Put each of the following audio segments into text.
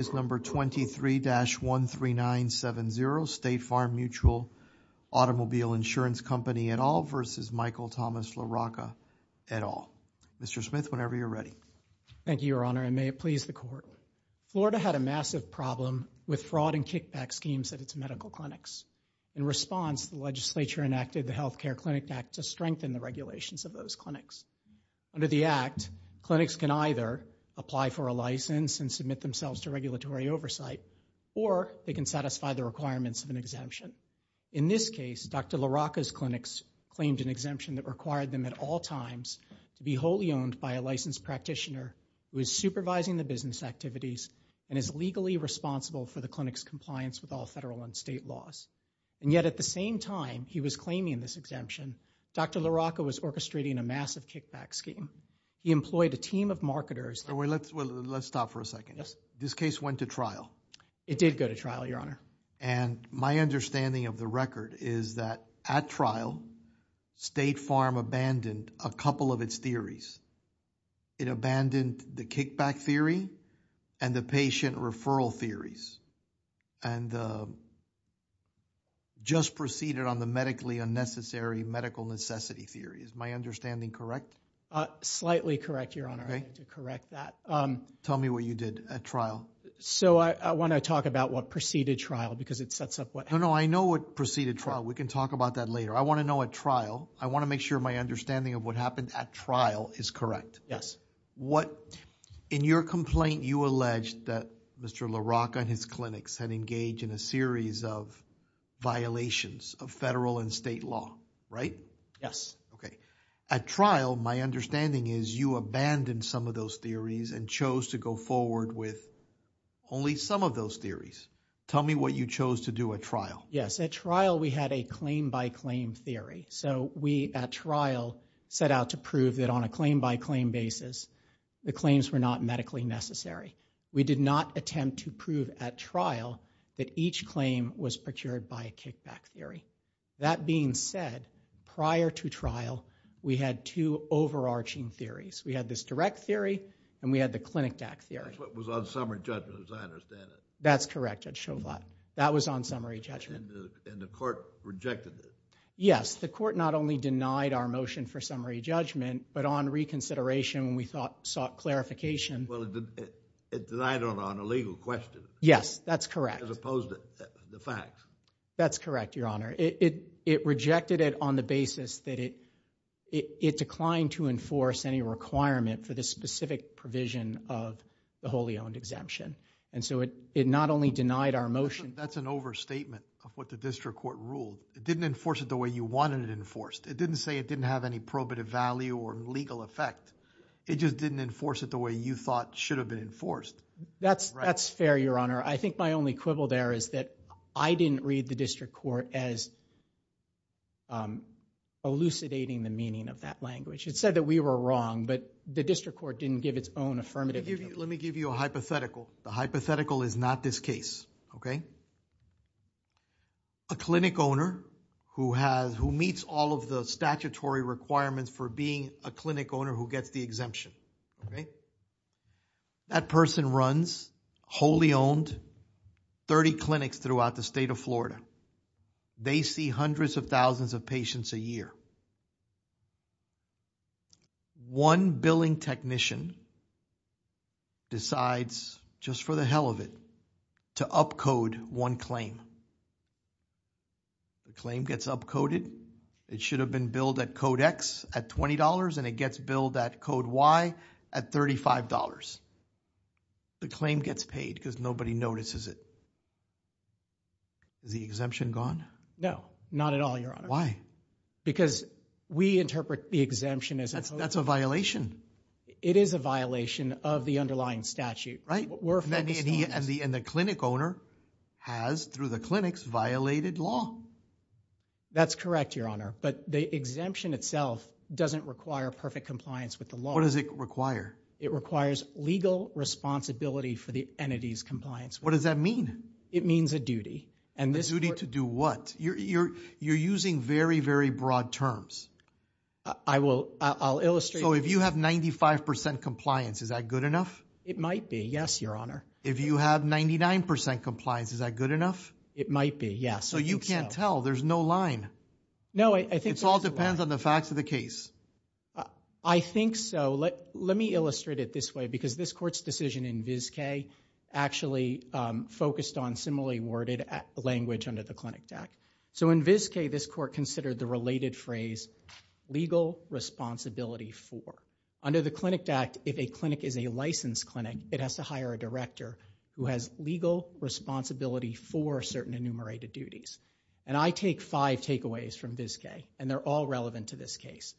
is number 23-13970 State Farm Mutual Automobile Insurance Company et al. versus Michael Thomas LaRocca et al. Mr. Smith, whenever you're ready. Thank you, your honor, and may it please the court. Florida had a massive problem with fraud and kickback schemes at its medical clinics. In response, the legislature enacted the Health Care Clinic Act to strengthen the regulations of those clinics. Under the act, clinics can either apply for a license and submit themselves to regulatory oversight, or they can satisfy the requirements of an exemption. In this case, Dr. LaRocca's clinics claimed an exemption that required them at all times to be wholly owned by a licensed practitioner who is supervising the business activities and is legally responsible for the clinic's compliance with all federal and state laws. And yet at the same time he was claiming this exemption, Dr. LaRocca was orchestrating a massive kickback scheme. He employed a team of marketers. Wait, let's stop for a second. This case went to trial. It did go to trial, your honor. And my understanding of the record is that at trial, State Farm abandoned a couple of its theories. It abandoned the kickback theory and the patient referral theories and just proceeded on the medically unnecessary medical necessity theory. Is my understanding correct? Slightly correct, your honor. I need to correct that. Tell me what you did at trial. So I want to talk about what preceded trial because it sets up what happened. No, no. I know what preceded trial. We can talk about that later. I want to know at trial. I want to make sure my understanding of what happened at trial is correct. Yes. In your complaint, you alleged that Mr. LaRocca and his clinics had engaged in a series of violations of federal and state law, right? Yes. Okay. At trial, my understanding is you abandoned some of those theories and chose to go forward with only some of those theories. Tell me what you chose to do at trial. Yes. At trial, we had a claim by claim theory. So we at trial set out to prove that on a claim by claim basis, the claims were not medically necessary. We did not attempt to prove at trial that each claim was procured by a kickback theory. That being said, prior to trial, we had two overarching theories. We had this direct theory and we had the clinic DAC theory. That's what was on summary judgment as I understand it. That's correct, Judge Schovane. That was on summary judgment. And the court rejected it? Yes. The court not only denied our motion for summary judgment, but on reconsideration, we sought clarification. Well, it denied it on a legal question. Yes, that's correct. As opposed to the facts. That's correct, Your Honor. It rejected it on the basis that it declined to enforce any requirement for the specific provision of the wholly owned exemption. And so it not only denied our motion. That's an overstatement of what the district court ruled. It didn't enforce it the way you wanted it enforced. It didn't say it didn't have any probative value or legal effect. It just didn't enforce it the way you thought should have been enforced. That's fair, Your Honor. I think my only quibble there is that I didn't read the district court as elucidating the meaning of that language. It said that we were wrong, but the district court didn't give its own affirmative. Let me give you a hypothetical. The hypothetical is not this case, okay? A clinic owner who meets all of the statutory requirements for being a clinic owner who gets the exemption, okay? That person runs wholly owned 30 clinics throughout the state of Florida. They see hundreds of thousands of patients a year. One billing technician decides, just for the hell of it, to upcode one claim. The claim gets upcoded. It should have been billed at code X at $20 and it gets billed at code Y at $35. The claim gets paid because nobody notices it. Is the exemption gone? No, not at all, Your Honor. Why? Because we interpret the exemption as... That's a violation. It is a violation of the underlying statute, right? And the clinic owner has, through the clinics, violated law. That's correct, Your Honor, but the exemption itself doesn't require perfect compliance with the law. What does it require? It requires legal responsibility for the entity's compliance. What does that mean? It means a duty. And the duty to do what? You're using very, very broad terms. I will. I'll illustrate. So if you have 95% compliance, is that good enough? It might be, yes, Your Honor. If you have 99% compliance, is that good enough? It might be, yes. So you can't tell. There's no line. No, I think... It all depends on the facts of the case. I think so. Let me illustrate it this way because this court's decision in VIZK actually focused on similarly worded language under the Clinic Act. So in VIZK, this court considered the related phrase legal responsibility for. Under the Clinic Act, if a clinic is a licensed clinic, it has to hire a director who has legal responsibility for certain enumerated duties. And I take five takeaways from VIZK, and they're all relevant to this case.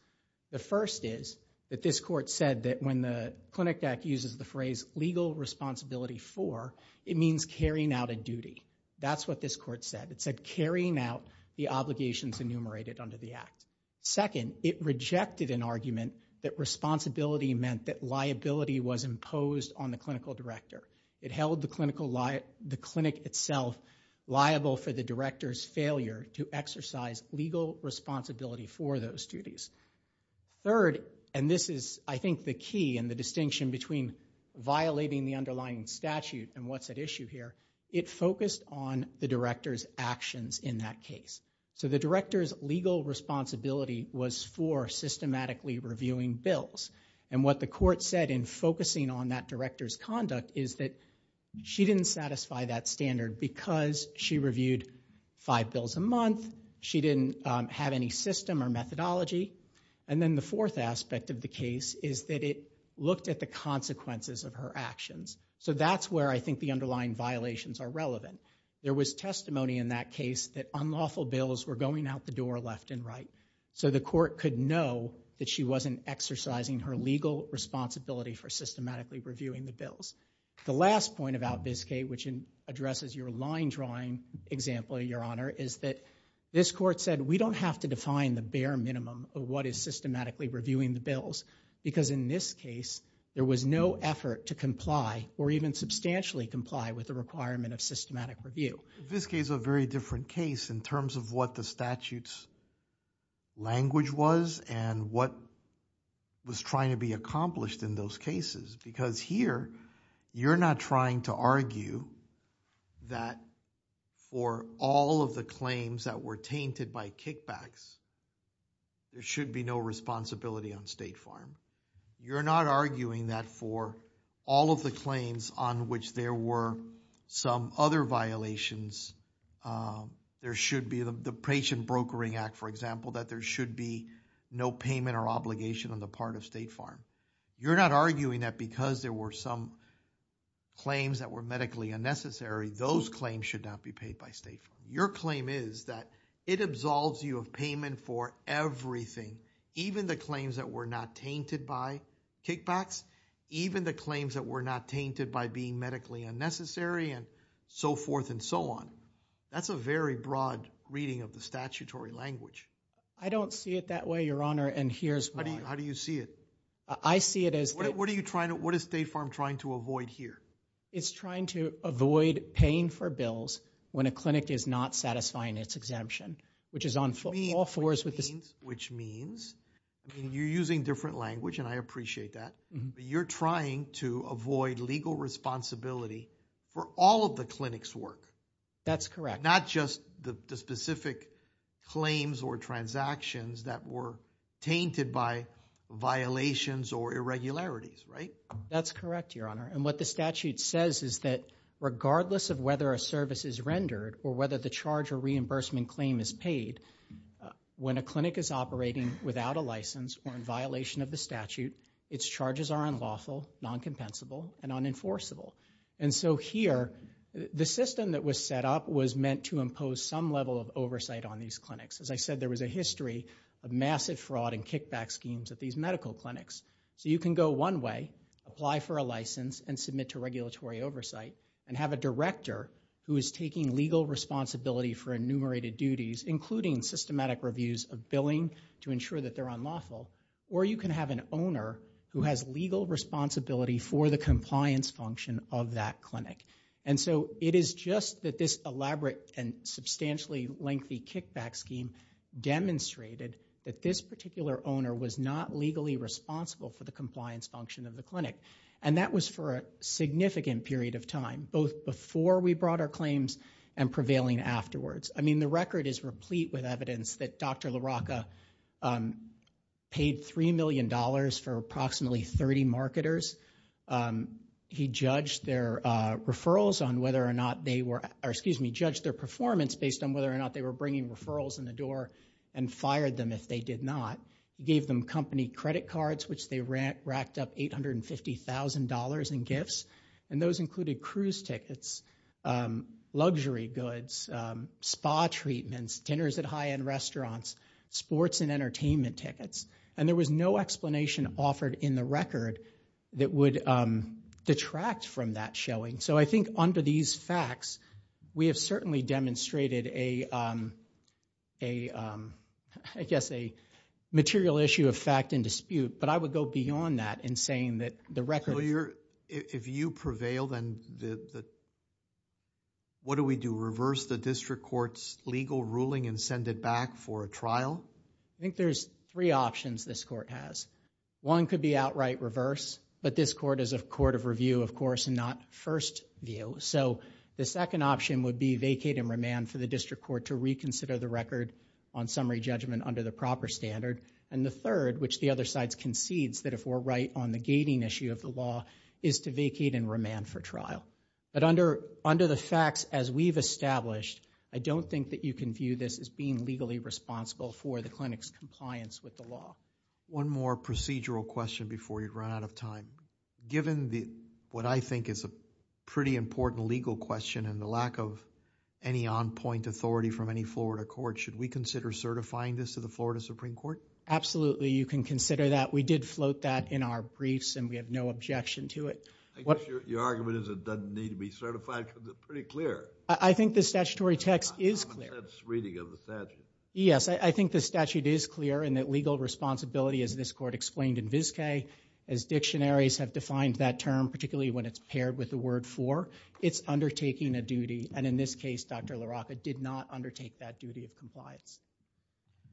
The first is that this court said that when the Clinic Act uses the phrase legal responsibility for, it means carrying out a duty. That's what this court said. It said carrying out the obligations enumerated under the Act. Second, it rejected an argument that responsibility meant that liability was imposed on the clinical director. It held the clinic itself liable for the director's failure to exercise legal responsibility for those duties. Third, and this is I think the key and the distinction between violating the underlying statute and what's at issue here, it focused on the director's actions in that case. So the director's legal responsibility was for systematically reviewing bills. And what the court said in focusing on that director's conduct is that she didn't satisfy that standard because she reviewed five bills a month, she didn't have any system or methodology, and then the fourth aspect of the case is that it looked at the consequences of her actions. So that's where I think the underlying violations are relevant. There was testimony in that case that unlawful bills were going out the door left and right. So the court could know that she wasn't exercising her legal responsibility for systematically reviewing the bills. The last point about VIZK, which addresses your line drawing example, Your Honor, is that this court said, we don't have to define the bare minimum of what is systematically reviewing the bills because in this case, there was no effort to comply or even substantially comply with the requirement of systematic review. VIZK is a very different case in terms of what the statute's language was and what was trying to be accomplished in those cases. Because here, you're not trying to argue that for all of the claims that were tainted by kickbacks, there should be no responsibility on State Farm. You're not arguing that for all of the claims on which there were some other violations, there should be the patient brokering act, for example, that there should be no payment or obligation on the part of State Farm. You're not arguing that because there were some claims that were medically unnecessary, those claims should not be paid by State Farm. Your claim is that it absolves you of payment for everything, even the claims that were not tainted by kickbacks, even the claims that were not tainted by being medically unnecessary and so forth and so on. That's a very broad reading of the statutory language. I don't see it that way, Your Honor, and here's why. How do you see it? I see it as- What are you trying to, what is State Farm trying to avoid here? It's trying to avoid paying for bills when a clinic is not satisfying its exemption, which is on all fours with the- Which means, I mean, you're using different language and I appreciate that, but you're trying to avoid legal responsibility for all of the clinic's work. That's correct. Not just the specific claims or transactions that were tainted by violations or irregularities, right? That's correct, Your Honor, and what the statute says is that regardless of whether a service is rendered or whether the charge or reimbursement claim is paid, when a clinic is operating without a license or in violation of the statute, its charges are unlawful, non-compensable, and unenforceable. And so here, the system that was set up was meant to impose some level of oversight on these clinics. As I said, there was a history of massive fraud and kickback schemes at these medical clinics. So you can go one way, apply for a license and submit to regulatory oversight and have a director who is taking legal responsibility for enumerated duties, including systematic reviews of billing to ensure that they're unlawful, or you can have an owner who has legal responsibility for the compliance function of that clinic. And so it is just that this elaborate and substantially lengthy kickback scheme demonstrated that this particular owner was not legally responsible for the compliance function of the clinic. And that was for a significant period of time, both before we brought our claims and prevailing afterwards. The record is replete with evidence that Dr. LaRocca paid $3 million for approximately 30 marketers. He judged their referrals on whether or not they were, or excuse me, judged their performance based on whether or not they were bringing referrals in the door and fired them if they did not. Gave them company credit cards, which they racked up $850,000 in gifts. And those included cruise tickets, luxury goods, spa treatments, dinners at high-end restaurants, sports and entertainment tickets. And there was no explanation offered in the record that would detract from that showing. So I think under these facts, we have certainly demonstrated a, I guess, a material issue of fact and dispute. But I would go beyond that in saying that the record... If you prevail, then what do we do? Reverse the district court's legal ruling and send it back for a trial? I think there's three options this court has. One could be outright reverse. But this court is a court of review, of course, and not first view. So the second option would be vacate and remand for the district court to reconsider the record on summary judgment under the proper standard. And the third, which the other side concedes that if we're right on the gating issue of the law, is to vacate and remand for trial. But under the facts as we've established, I don't think that you can view this as being legally responsible for the clinic's compliance with the law. One more procedural question before you run out of time. Given what I think is a pretty important legal question and the lack of any on-point authority from any Florida court, should we consider certifying this to the Florida Supreme Court? Absolutely, you can consider that. We did float that in our briefs, and we have no objection to it. I guess your argument is it doesn't need to be certified, because it's pretty clear. I think the statutory text is clear. That's reading of the statute. Yes, I think the statute is clear, and that legal responsibility, as this court explained in Vizcay, as dictionaries have defined that term, particularly when it's paired with the word for, it's undertaking a duty. And in this case, Dr. LaRocca did not undertake that duty of compliance.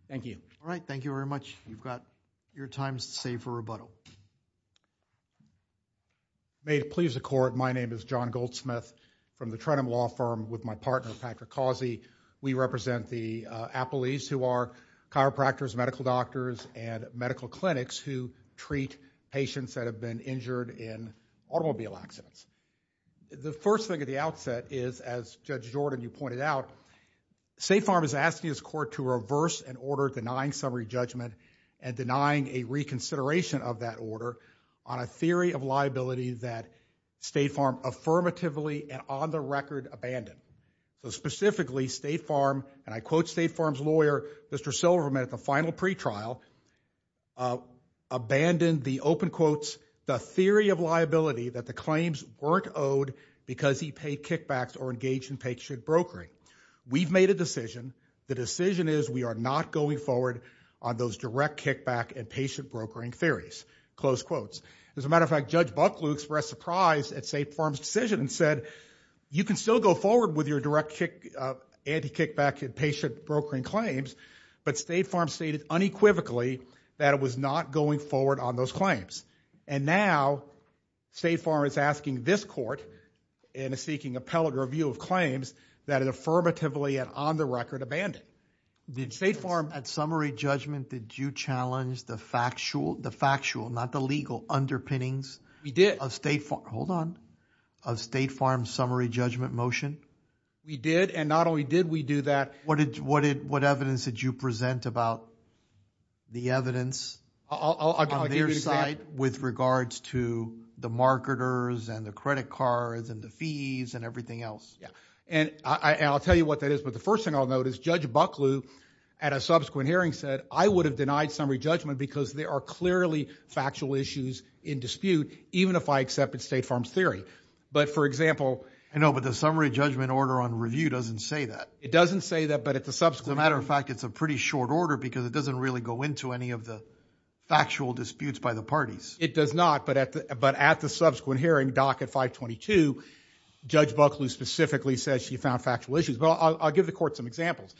Thank you. All right, thank you very much. You've got your time to save for rebuttal. May it please the court, my name is John Goldsmith from the Trenum Law Firm with my partner, Patrick Causey. We represent the appellees who are chiropractors, medical doctors, and medical clinics who treat patients that have been injured in automobile accidents. The first thing at the outset is, as Judge Jordan, you pointed out, Safe Arm is asking his court to reverse an order denying summary judgment and denying a reconsideration of that order on a theory of liability that State Farm affirmatively, and on the record, abandoned. So specifically, State Farm, and I quote State Farm's lawyer, Mr. Silverman, at the final pretrial, abandoned the open quotes, the theory of liability that the claims weren't owed because he paid kickbacks or engaged in paycheck brokering. We've made a decision. The decision is we are not going forward on those direct kickback and paycheck brokering theories. Close quotes. As a matter of fact, Judge Bucklew expressed surprise at Safe Arm's decision and said, you can still go forward with your direct kick, anti-kickback and paycheck brokering claims, but State Farm stated unequivocally that it was not going forward on those claims. And now, State Farm is asking this court, and is seeking appellate review of claims, that it affirmatively, and on the record, abandoned. Did State Farm... At summary judgment, did you challenge the factual, the factual, not the legal, underpinnings... We did. ...of State Farm, hold on, of State Farm's summary judgment motion? We did, and not only did we do that... What evidence did you present about the evidence... I'll give you an example. ...on their side with regards to the marketers and the credit cards and the fees and everything else? Yeah, and I'll tell you what that is, but the first thing I'll note is, Judge Bucklew, at a subsequent hearing, said I would have denied summary judgment because there are clearly factual issues in dispute, even if I accepted State Farm's theory. But for example... I know, but the summary judgment order on review doesn't say that. It doesn't say that, but at the subsequent... As a matter of fact, it's a pretty short order because it doesn't really go into any of the factual disputes by the parties. It does not, but at the subsequent hearing, Dock at 522, Judge Bucklew specifically says she found factual issues. But I'll give the court some examples.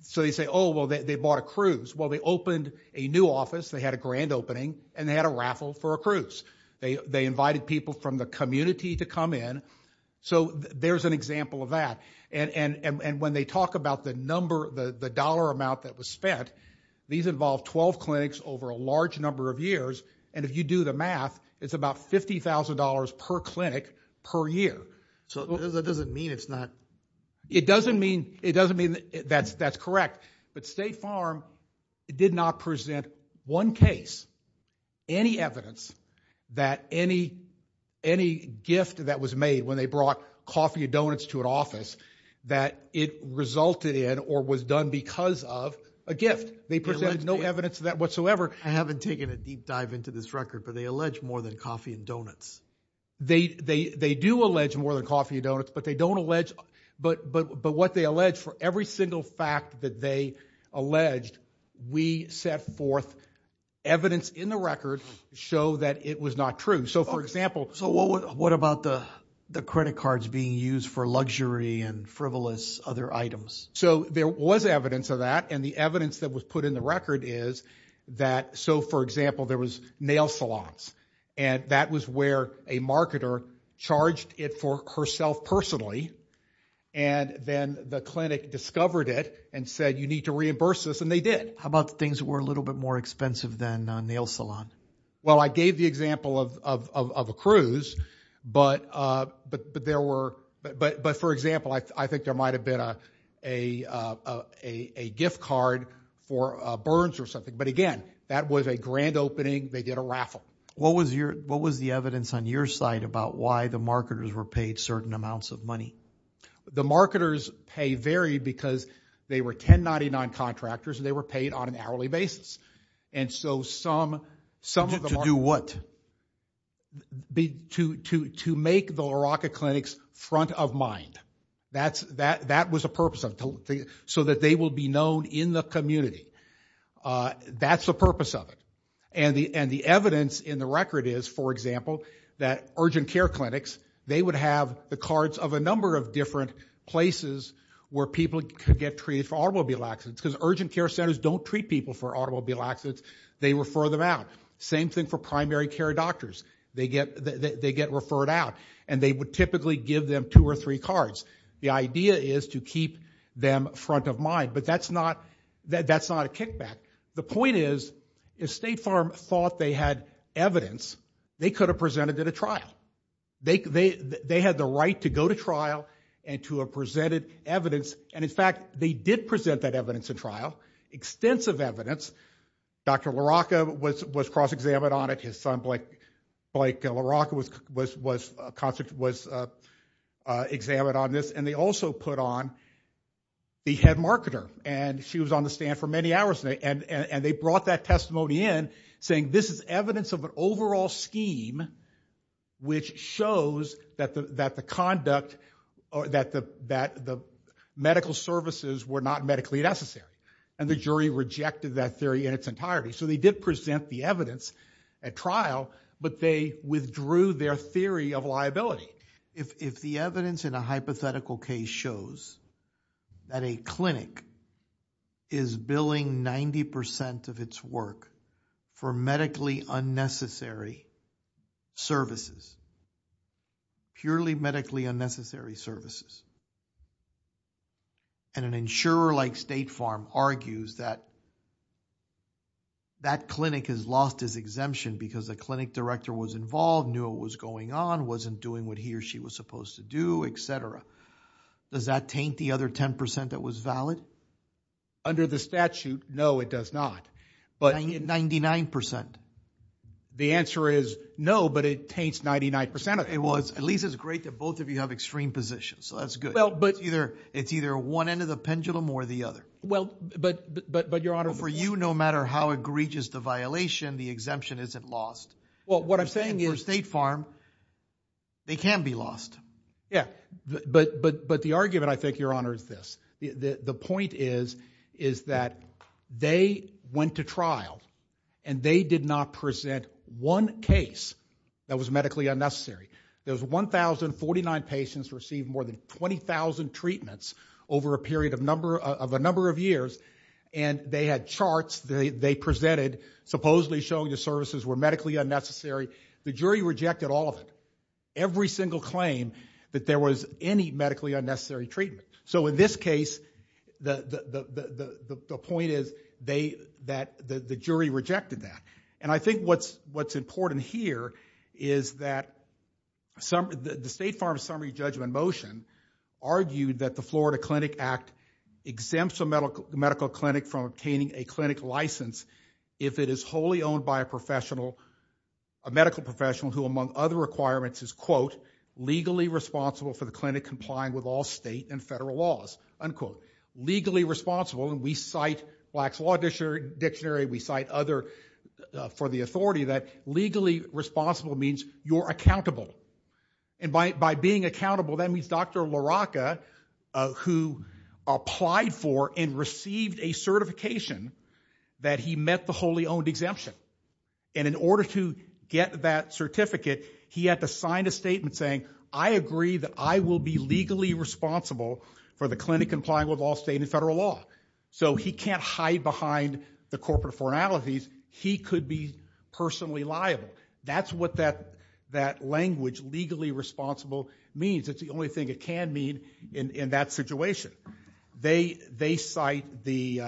So they say, oh, well, they bought a cruise. Well, they opened a new office. They had a grand opening, and they had a raffle for a cruise. They invited people from the community to come in. So there's an example of that. And when they talk about the number, the dollar amount that was spent, these involved 12 clinics over a large number of years. And if you do the math, it's about $50,000 per clinic per year. So that doesn't mean it's not... It doesn't mean that's correct. But State Farm did not present one case, any evidence that any gift that was made when they brought coffee and donuts to an office, that it resulted in or was done because of a gift. They presented no evidence of that whatsoever. I haven't taken a deep dive into this record, but they allege more than coffee and donuts. They do allege more than coffee and donuts, but they don't allege... But what they allege for every single fact that they alleged, we set forth evidence in the record to show that it was not true. So for example... So what about the credit cards being used for luxury and frivolous other items? So there was evidence of that. And the evidence that was put in the record is that... So for example, there was nail salons. And that was where a marketer charged it for herself personally. And then the clinic discovered it and said, you need to reimburse this. And they did. How about the things that were a little bit more expensive than a nail salon? Well, I gave the example of a cruise, but there were... But for example, I think there might've been a gift card for Burns or something. But again, that was a grand opening. They did a raffle. What was the evidence on your side about why the marketers were paid certain amounts of money? The marketers' pay varied because they were 1099 contractors and they were paid on an hourly basis. And so some... Some of them are... To do what? To make the LaRocca clinics front of mind. That was a purpose. So that they will be known in the community. That's the purpose of it. And the evidence in the record is, for example, that urgent care clinics, they would have the cards of a number of different places where people could get treated for automobile accidents because urgent care centers don't treat people for automobile accidents. They refer them out. Same thing for primary care doctors. They get referred out and they would typically give them two or three cards. The idea is to keep them front of mind, but that's not a kickback. The point is, if State Farm thought they had evidence, they could have presented at a trial. They had the right to go to trial and to have presented evidence. And in fact, they did present that evidence in trial. Extensive evidence. Dr. LaRocca was cross-examined on it. His son, Blake LaRocca, was examined on this. And they also put on the head marketer. And she was on the stand for many hours. And they brought that testimony in saying, this is evidence of an overall scheme which shows that the medical services were not medically necessary. And the jury rejected that theory in its entirety. So they did present the evidence at trial, but they withdrew their theory of liability. If the evidence in a hypothetical case shows that a clinic is billing 90% of its work for medically unnecessary services, purely medically unnecessary services, and an insurer like State Farm argues that that clinic has lost its exemption because the clinic director was involved, knew what was going on, wasn't doing what he or she was supposed to do, et cetera. Does that taint the other 10% that was valid? Under the statute, no, it does not. 99%. The answer is no, but it taints 99%. It was at least as great that both of you have extreme positions. So that's good. It's either one end of the pendulum or the other. But Your Honor- For you, no matter how egregious the violation, the exemption isn't lost. Well, what I'm saying is- For State Farm, they can be lost. Yeah, but the argument, I think, Your Honor, is this. The point is that they went to trial and they did not present one case that was medically unnecessary. There was 1,049 patients received more than 20,000 treatments over a period of a number of years, and they had charts they presented supposedly showing the services were medically unnecessary. The jury rejected all of it. Every single claim that there was any medically unnecessary treatment. So in this case, the point is that the jury rejected that. And I think what's important here is that the State Farm summary judgment motion argued that the Florida Clinic Act exempts a medical clinic from obtaining a clinic license if it is wholly owned by a professional, a medical professional, who among other requirements is, quote, legally responsible for the clinic complying with all state and federal laws, unquote. Legally responsible, and we cite Black's Law Dictionary, we cite other for the authority that legally responsible means you're accountable. And by being accountable, that means Dr. LaRocca, who applied for and received a certification that he met the wholly owned exemption. And in order to get that certificate, he had to sign a statement saying, I agree that I will be legally responsible for the clinic complying with all state and federal law. So he can't hide behind the corporate formalities. He could be personally liable. That's what that language, legally responsible, means. It's the only thing it can mean in that situation. They cite the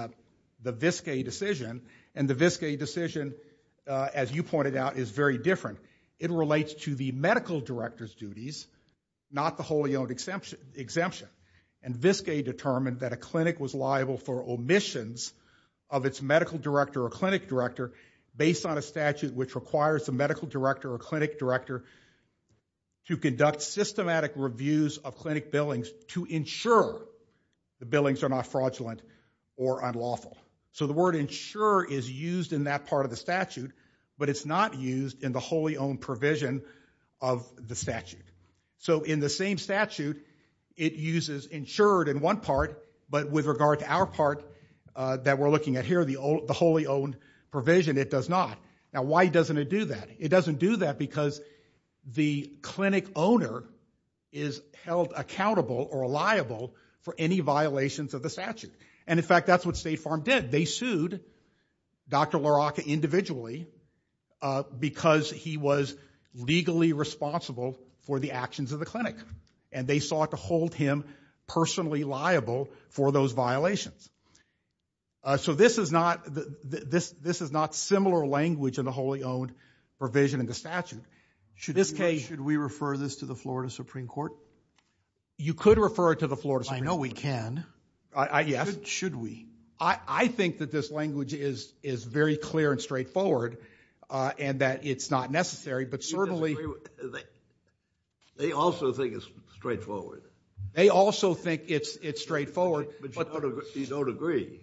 Vizcay decision, and the Vizcay decision, as you pointed out, is very different. It relates to the medical director's duties, not the wholly owned exemption. And Vizcay determined that a clinic was liable for omissions of its medical director or clinic director based on a statute which requires the medical director or clinic director to conduct systematic reviews of clinic billings to ensure the billings are not fraudulent or unlawful. So the word ensure is used in that part of the statute, but it's not used in the wholly owned provision of the statute. So in the same statute, it uses insured in one part, but with regard to our part that we're looking at here, the wholly owned provision, it does not. Now, why doesn't it do that? It doesn't do that because the clinic owner is held accountable or liable for any violations of the statute. And in fact, that's what State Farm did. They sued Dr. LaRocca individually because he was legally responsible for the actions of the clinic and they sought to hold him personally liable for those violations. So this is not similar language in the wholly owned provision in the statute. Should we refer this to the Florida Supreme Court? You could refer it to the Florida Supreme Court. I know we can. Yes. Should we? I think that this language is very clear and straightforward and that it's not necessary, but certainly... They also think it's straightforward. They also think it's straightforward. But you don't agree.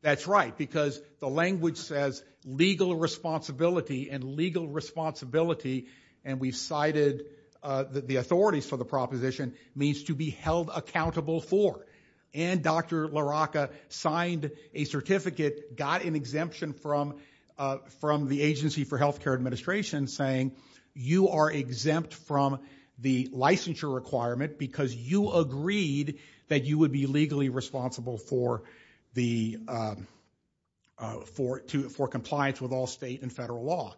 That's right, because the language says legal responsibility and legal responsibility, and we've cited the authorities for the proposition, means to be held accountable for. And Dr. LaRocca signed a certificate, got an exemption from the Agency for Healthcare Administration saying, you are exempt from the licensure requirement because you agreed that you would be legally responsible for compliance with all state and federal law.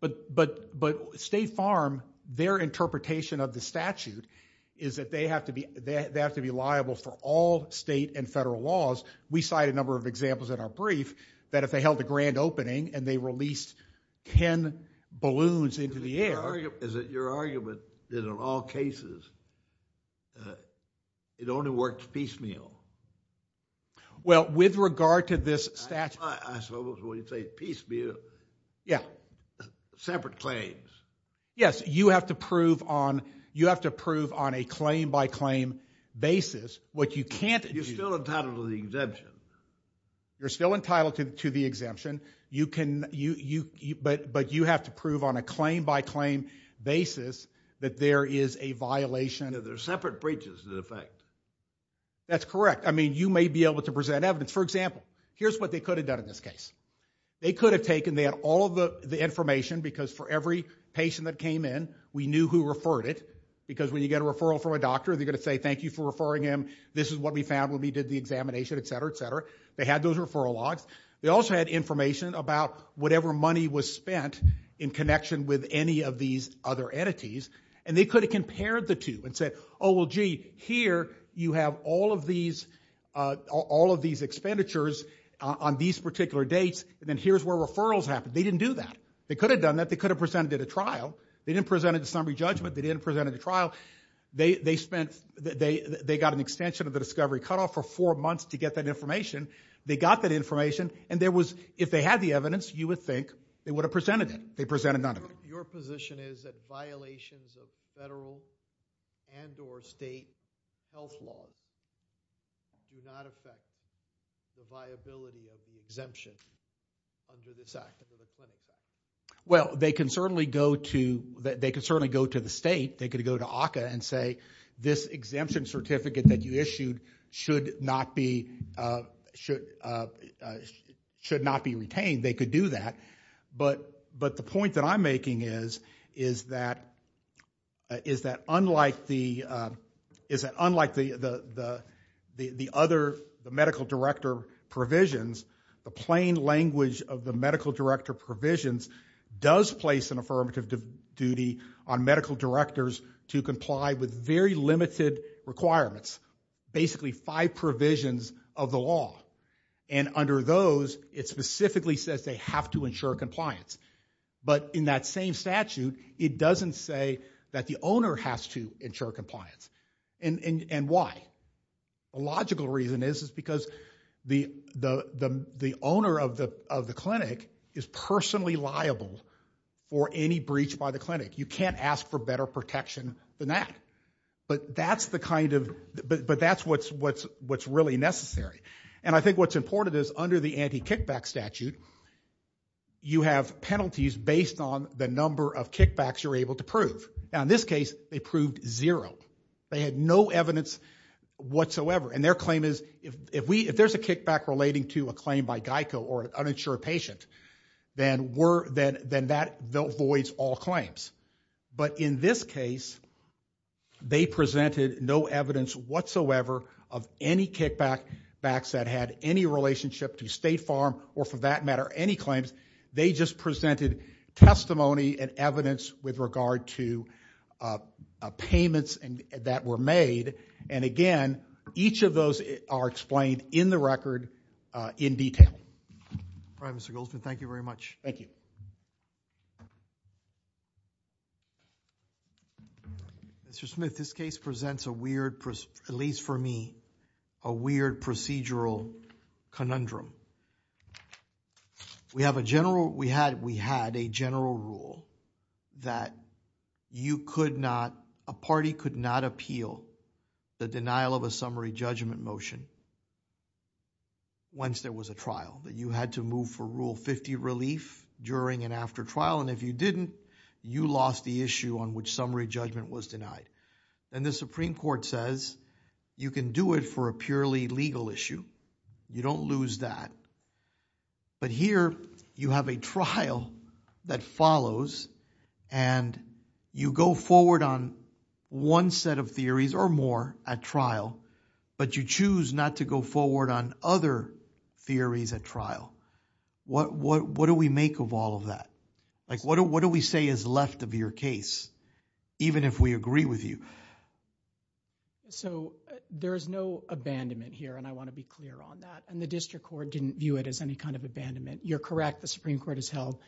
But State Farm, their interpretation of the statute is that they have to be liable for all state and federal laws. We cite a number of examples in our brief that if they held a grand opening and they released 10 balloons into the air... Is it your argument that in all cases it only works piecemeal? Well, with regard to this statute... I suppose when you say piecemeal... Yeah. ...separate claims. Yes, you have to prove on... You have to prove on a claim-by-claim basis what you can't... You're still entitled to the exemption. You're still entitled to the exemption. But you have to prove on a claim-by-claim basis that there is a violation... There are separate breaches in effect. That's correct. I mean, you may be able to present evidence. For example, here's what they could have done in this case. They could have taken... They had all of the information because for every patient that came in, we knew who referred it because when you get a referral from a doctor, they're going to say, thank you for referring him. This is what we found when we did the examination, etc., etc. They had those referral logs. They also had information about whatever money was spent in connection with any of these other entities. And they could have compared the two and said, oh, well, gee, here you have all of these... all of these expenditures on these particular dates and then here's where referrals happen. They didn't do that. They could have done that. They could have presented it at trial. They didn't present it to summary judgment. They didn't present it at trial. They spent... They got an extension of the discovery cutoff for four months to get that information. They got that information and there was... If they had the evidence, you would think they would have presented it. They presented none of it. Your position is that violations of federal and or state health laws do not affect the viability of the exemption under this Act, under the Clinic Act? Well, they can certainly go to... They can certainly go to the state. They could go to ACCA and say, this exemption certificate that you issued should not be... should not be retained. They could do that. But the point that I'm making is that... is that unlike the... is that unlike the other... the medical director provisions, the plain language of the medical director provisions does place an affirmative duty on medical directors to comply with very limited requirements. Basically, five provisions of the law. And under those, it specifically says they have to ensure compliance. But in that same statute, it doesn't say that the owner has to ensure compliance. And why? The logical reason is, is because the owner of the clinic is personally liable for any breach by the clinic. You can't ask for better protection than that. But that's the kind of... but that's what's really necessary. And I think what's important is under the anti-kickback statute, you have penalties based on the number of kickbacks you're able to prove. Now, in this case, they proved zero. They had no evidence whatsoever. And their claim is, if there's a kickback relating to a claim by GEICO or an uninsured patient, then that voids all claims. But in this case, they presented no evidence whatsoever of any kickbacks that had any relationship to State Farm or for that matter, any claims. They just presented testimony and evidence with regard to payments that were made. And again, each of those are explained in the record in detail. All right, Mr. Goldsmith. Thank you very much. Thank you. Mr. Smith, this case presents a weird, at least for me, a weird procedural conundrum. We have a general... we had a general rule that you could not... a party could not appeal the denial of a summary judgment motion once there was a trial, that you had to move for Rule 50 relief during and after trial. And if you didn't, you lost the issue on which summary judgment was denied. And the Supreme Court says, you can do it for a purely legal issue. You don't lose that. But here you have a trial that follows and you go forward on one set of theories or more at trial, but you choose not to go forward on other theories at trial. What do we make of all of that? Like, what do we say is left of your case, even if we agree with you? So, there is no abandonment here and I want to be clear on that. And the District Court didn't view it as any kind of abandonment. You're correct. The Supreme Court has held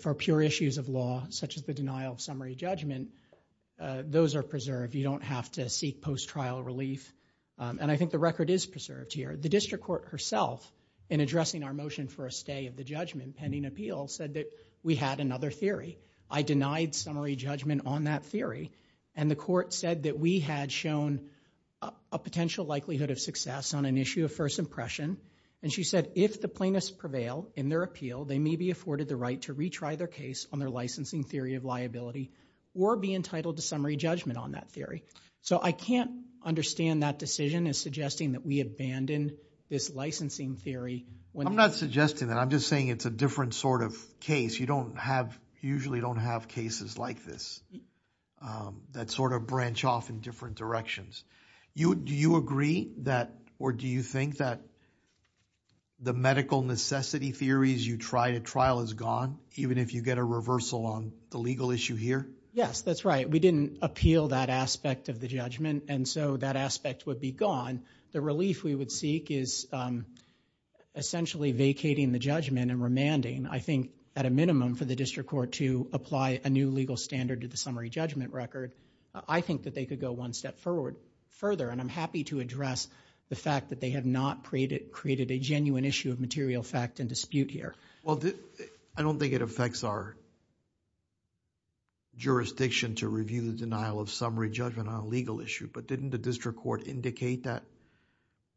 for pure issues of law, such as the denial of summary judgment, those are preserved. You don't have to seek post-trial relief. And I think the record is preserved here. The District Court herself in addressing our motion for a stay of the judgment pending appeal said that we had another theory. I denied summary judgment on that theory and the court said that we had shown a potential likelihood of success on an issue of first impression. And she said, if the plaintiffs prevail in their appeal, they may be afforded the right to retry their case on their licensing theory of liability or be entitled to summary judgment on that theory. So, I can't understand that decision as suggesting that we abandon this licensing theory. I'm not suggesting that. I'm just saying it's a different sort of case. You don't have, usually don't have cases like this that sort of branch off in different directions. Do you agree that, or do you think that the medical necessity theories you try to trial is gone even if you get a reversal on the legal issue here? Yes, that's right. We didn't appeal that aspect of the judgment and so that aspect would be gone. The relief we would seek is essentially vacating the judgment and remanding, I think, at a minimum for the District Court to apply a new legal standard to the summary judgment record. I think that they could go one step forward further and I'm happy to address the fact that they have not created a genuine issue of material fact and dispute here. Well, I don't think it affects our jurisdiction to review the denial of summary judgment on a legal issue, but didn't the District Court indicate that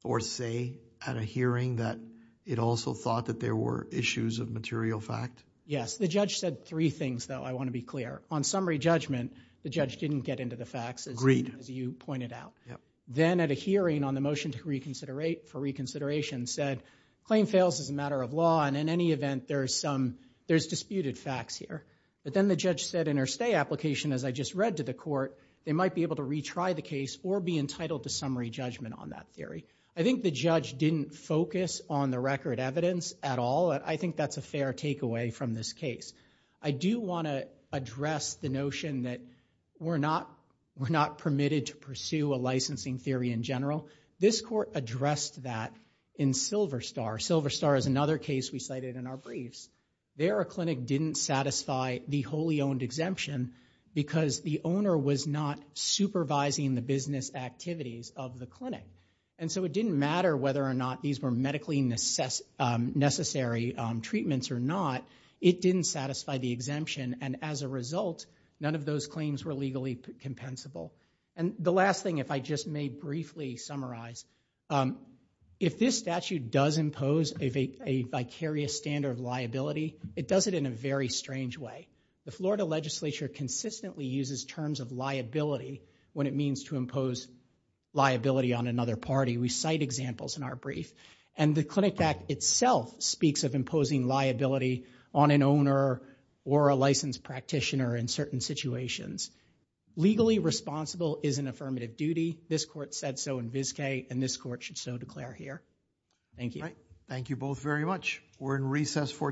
or say at a hearing that it also thought that there were issues of material fact? Yes, the judge said three things though, I want to be clear. On summary judgment, the judge didn't get into the facts as you pointed out. Then at a hearing on the motion for reconsideration said claim fails as a matter of law and in any event, there's disputed facts here. But then the judge said in her stay application, as I just read to the court, they might be able to retry the case or be entitled to summary judgment on that theory. I think the judge didn't focus on the record evidence at all. I think that's a fair takeaway from this case. I do want to address the notion that we're not permitted to pursue a licensing theory in general. This court addressed that in Silver Star. Silver Star is another case we cited in our briefs. There, a clinic didn't satisfy the wholly owned exemption because the owner was not supervising the business activities of the clinic. And so it didn't matter whether or not these were medically necessary treatments or not. It didn't satisfy the exemption and as a result, none of those claims were legally compensable. And the last thing, if I just may briefly summarize, if this statute does impose a vicarious standard of liability, it does it in a very strange way. The Florida legislature consistently uses terms of liability when it means to impose liability on another party. We cite examples in our brief and the Clinic Act itself speaks of imposing liability on an owner or a licensed practitioner in certain situations. Legally responsible is an affirmative duty. This court said so in Vizcay and this court should so declare here. Thank you. Thank you both very much. We're in recess for today.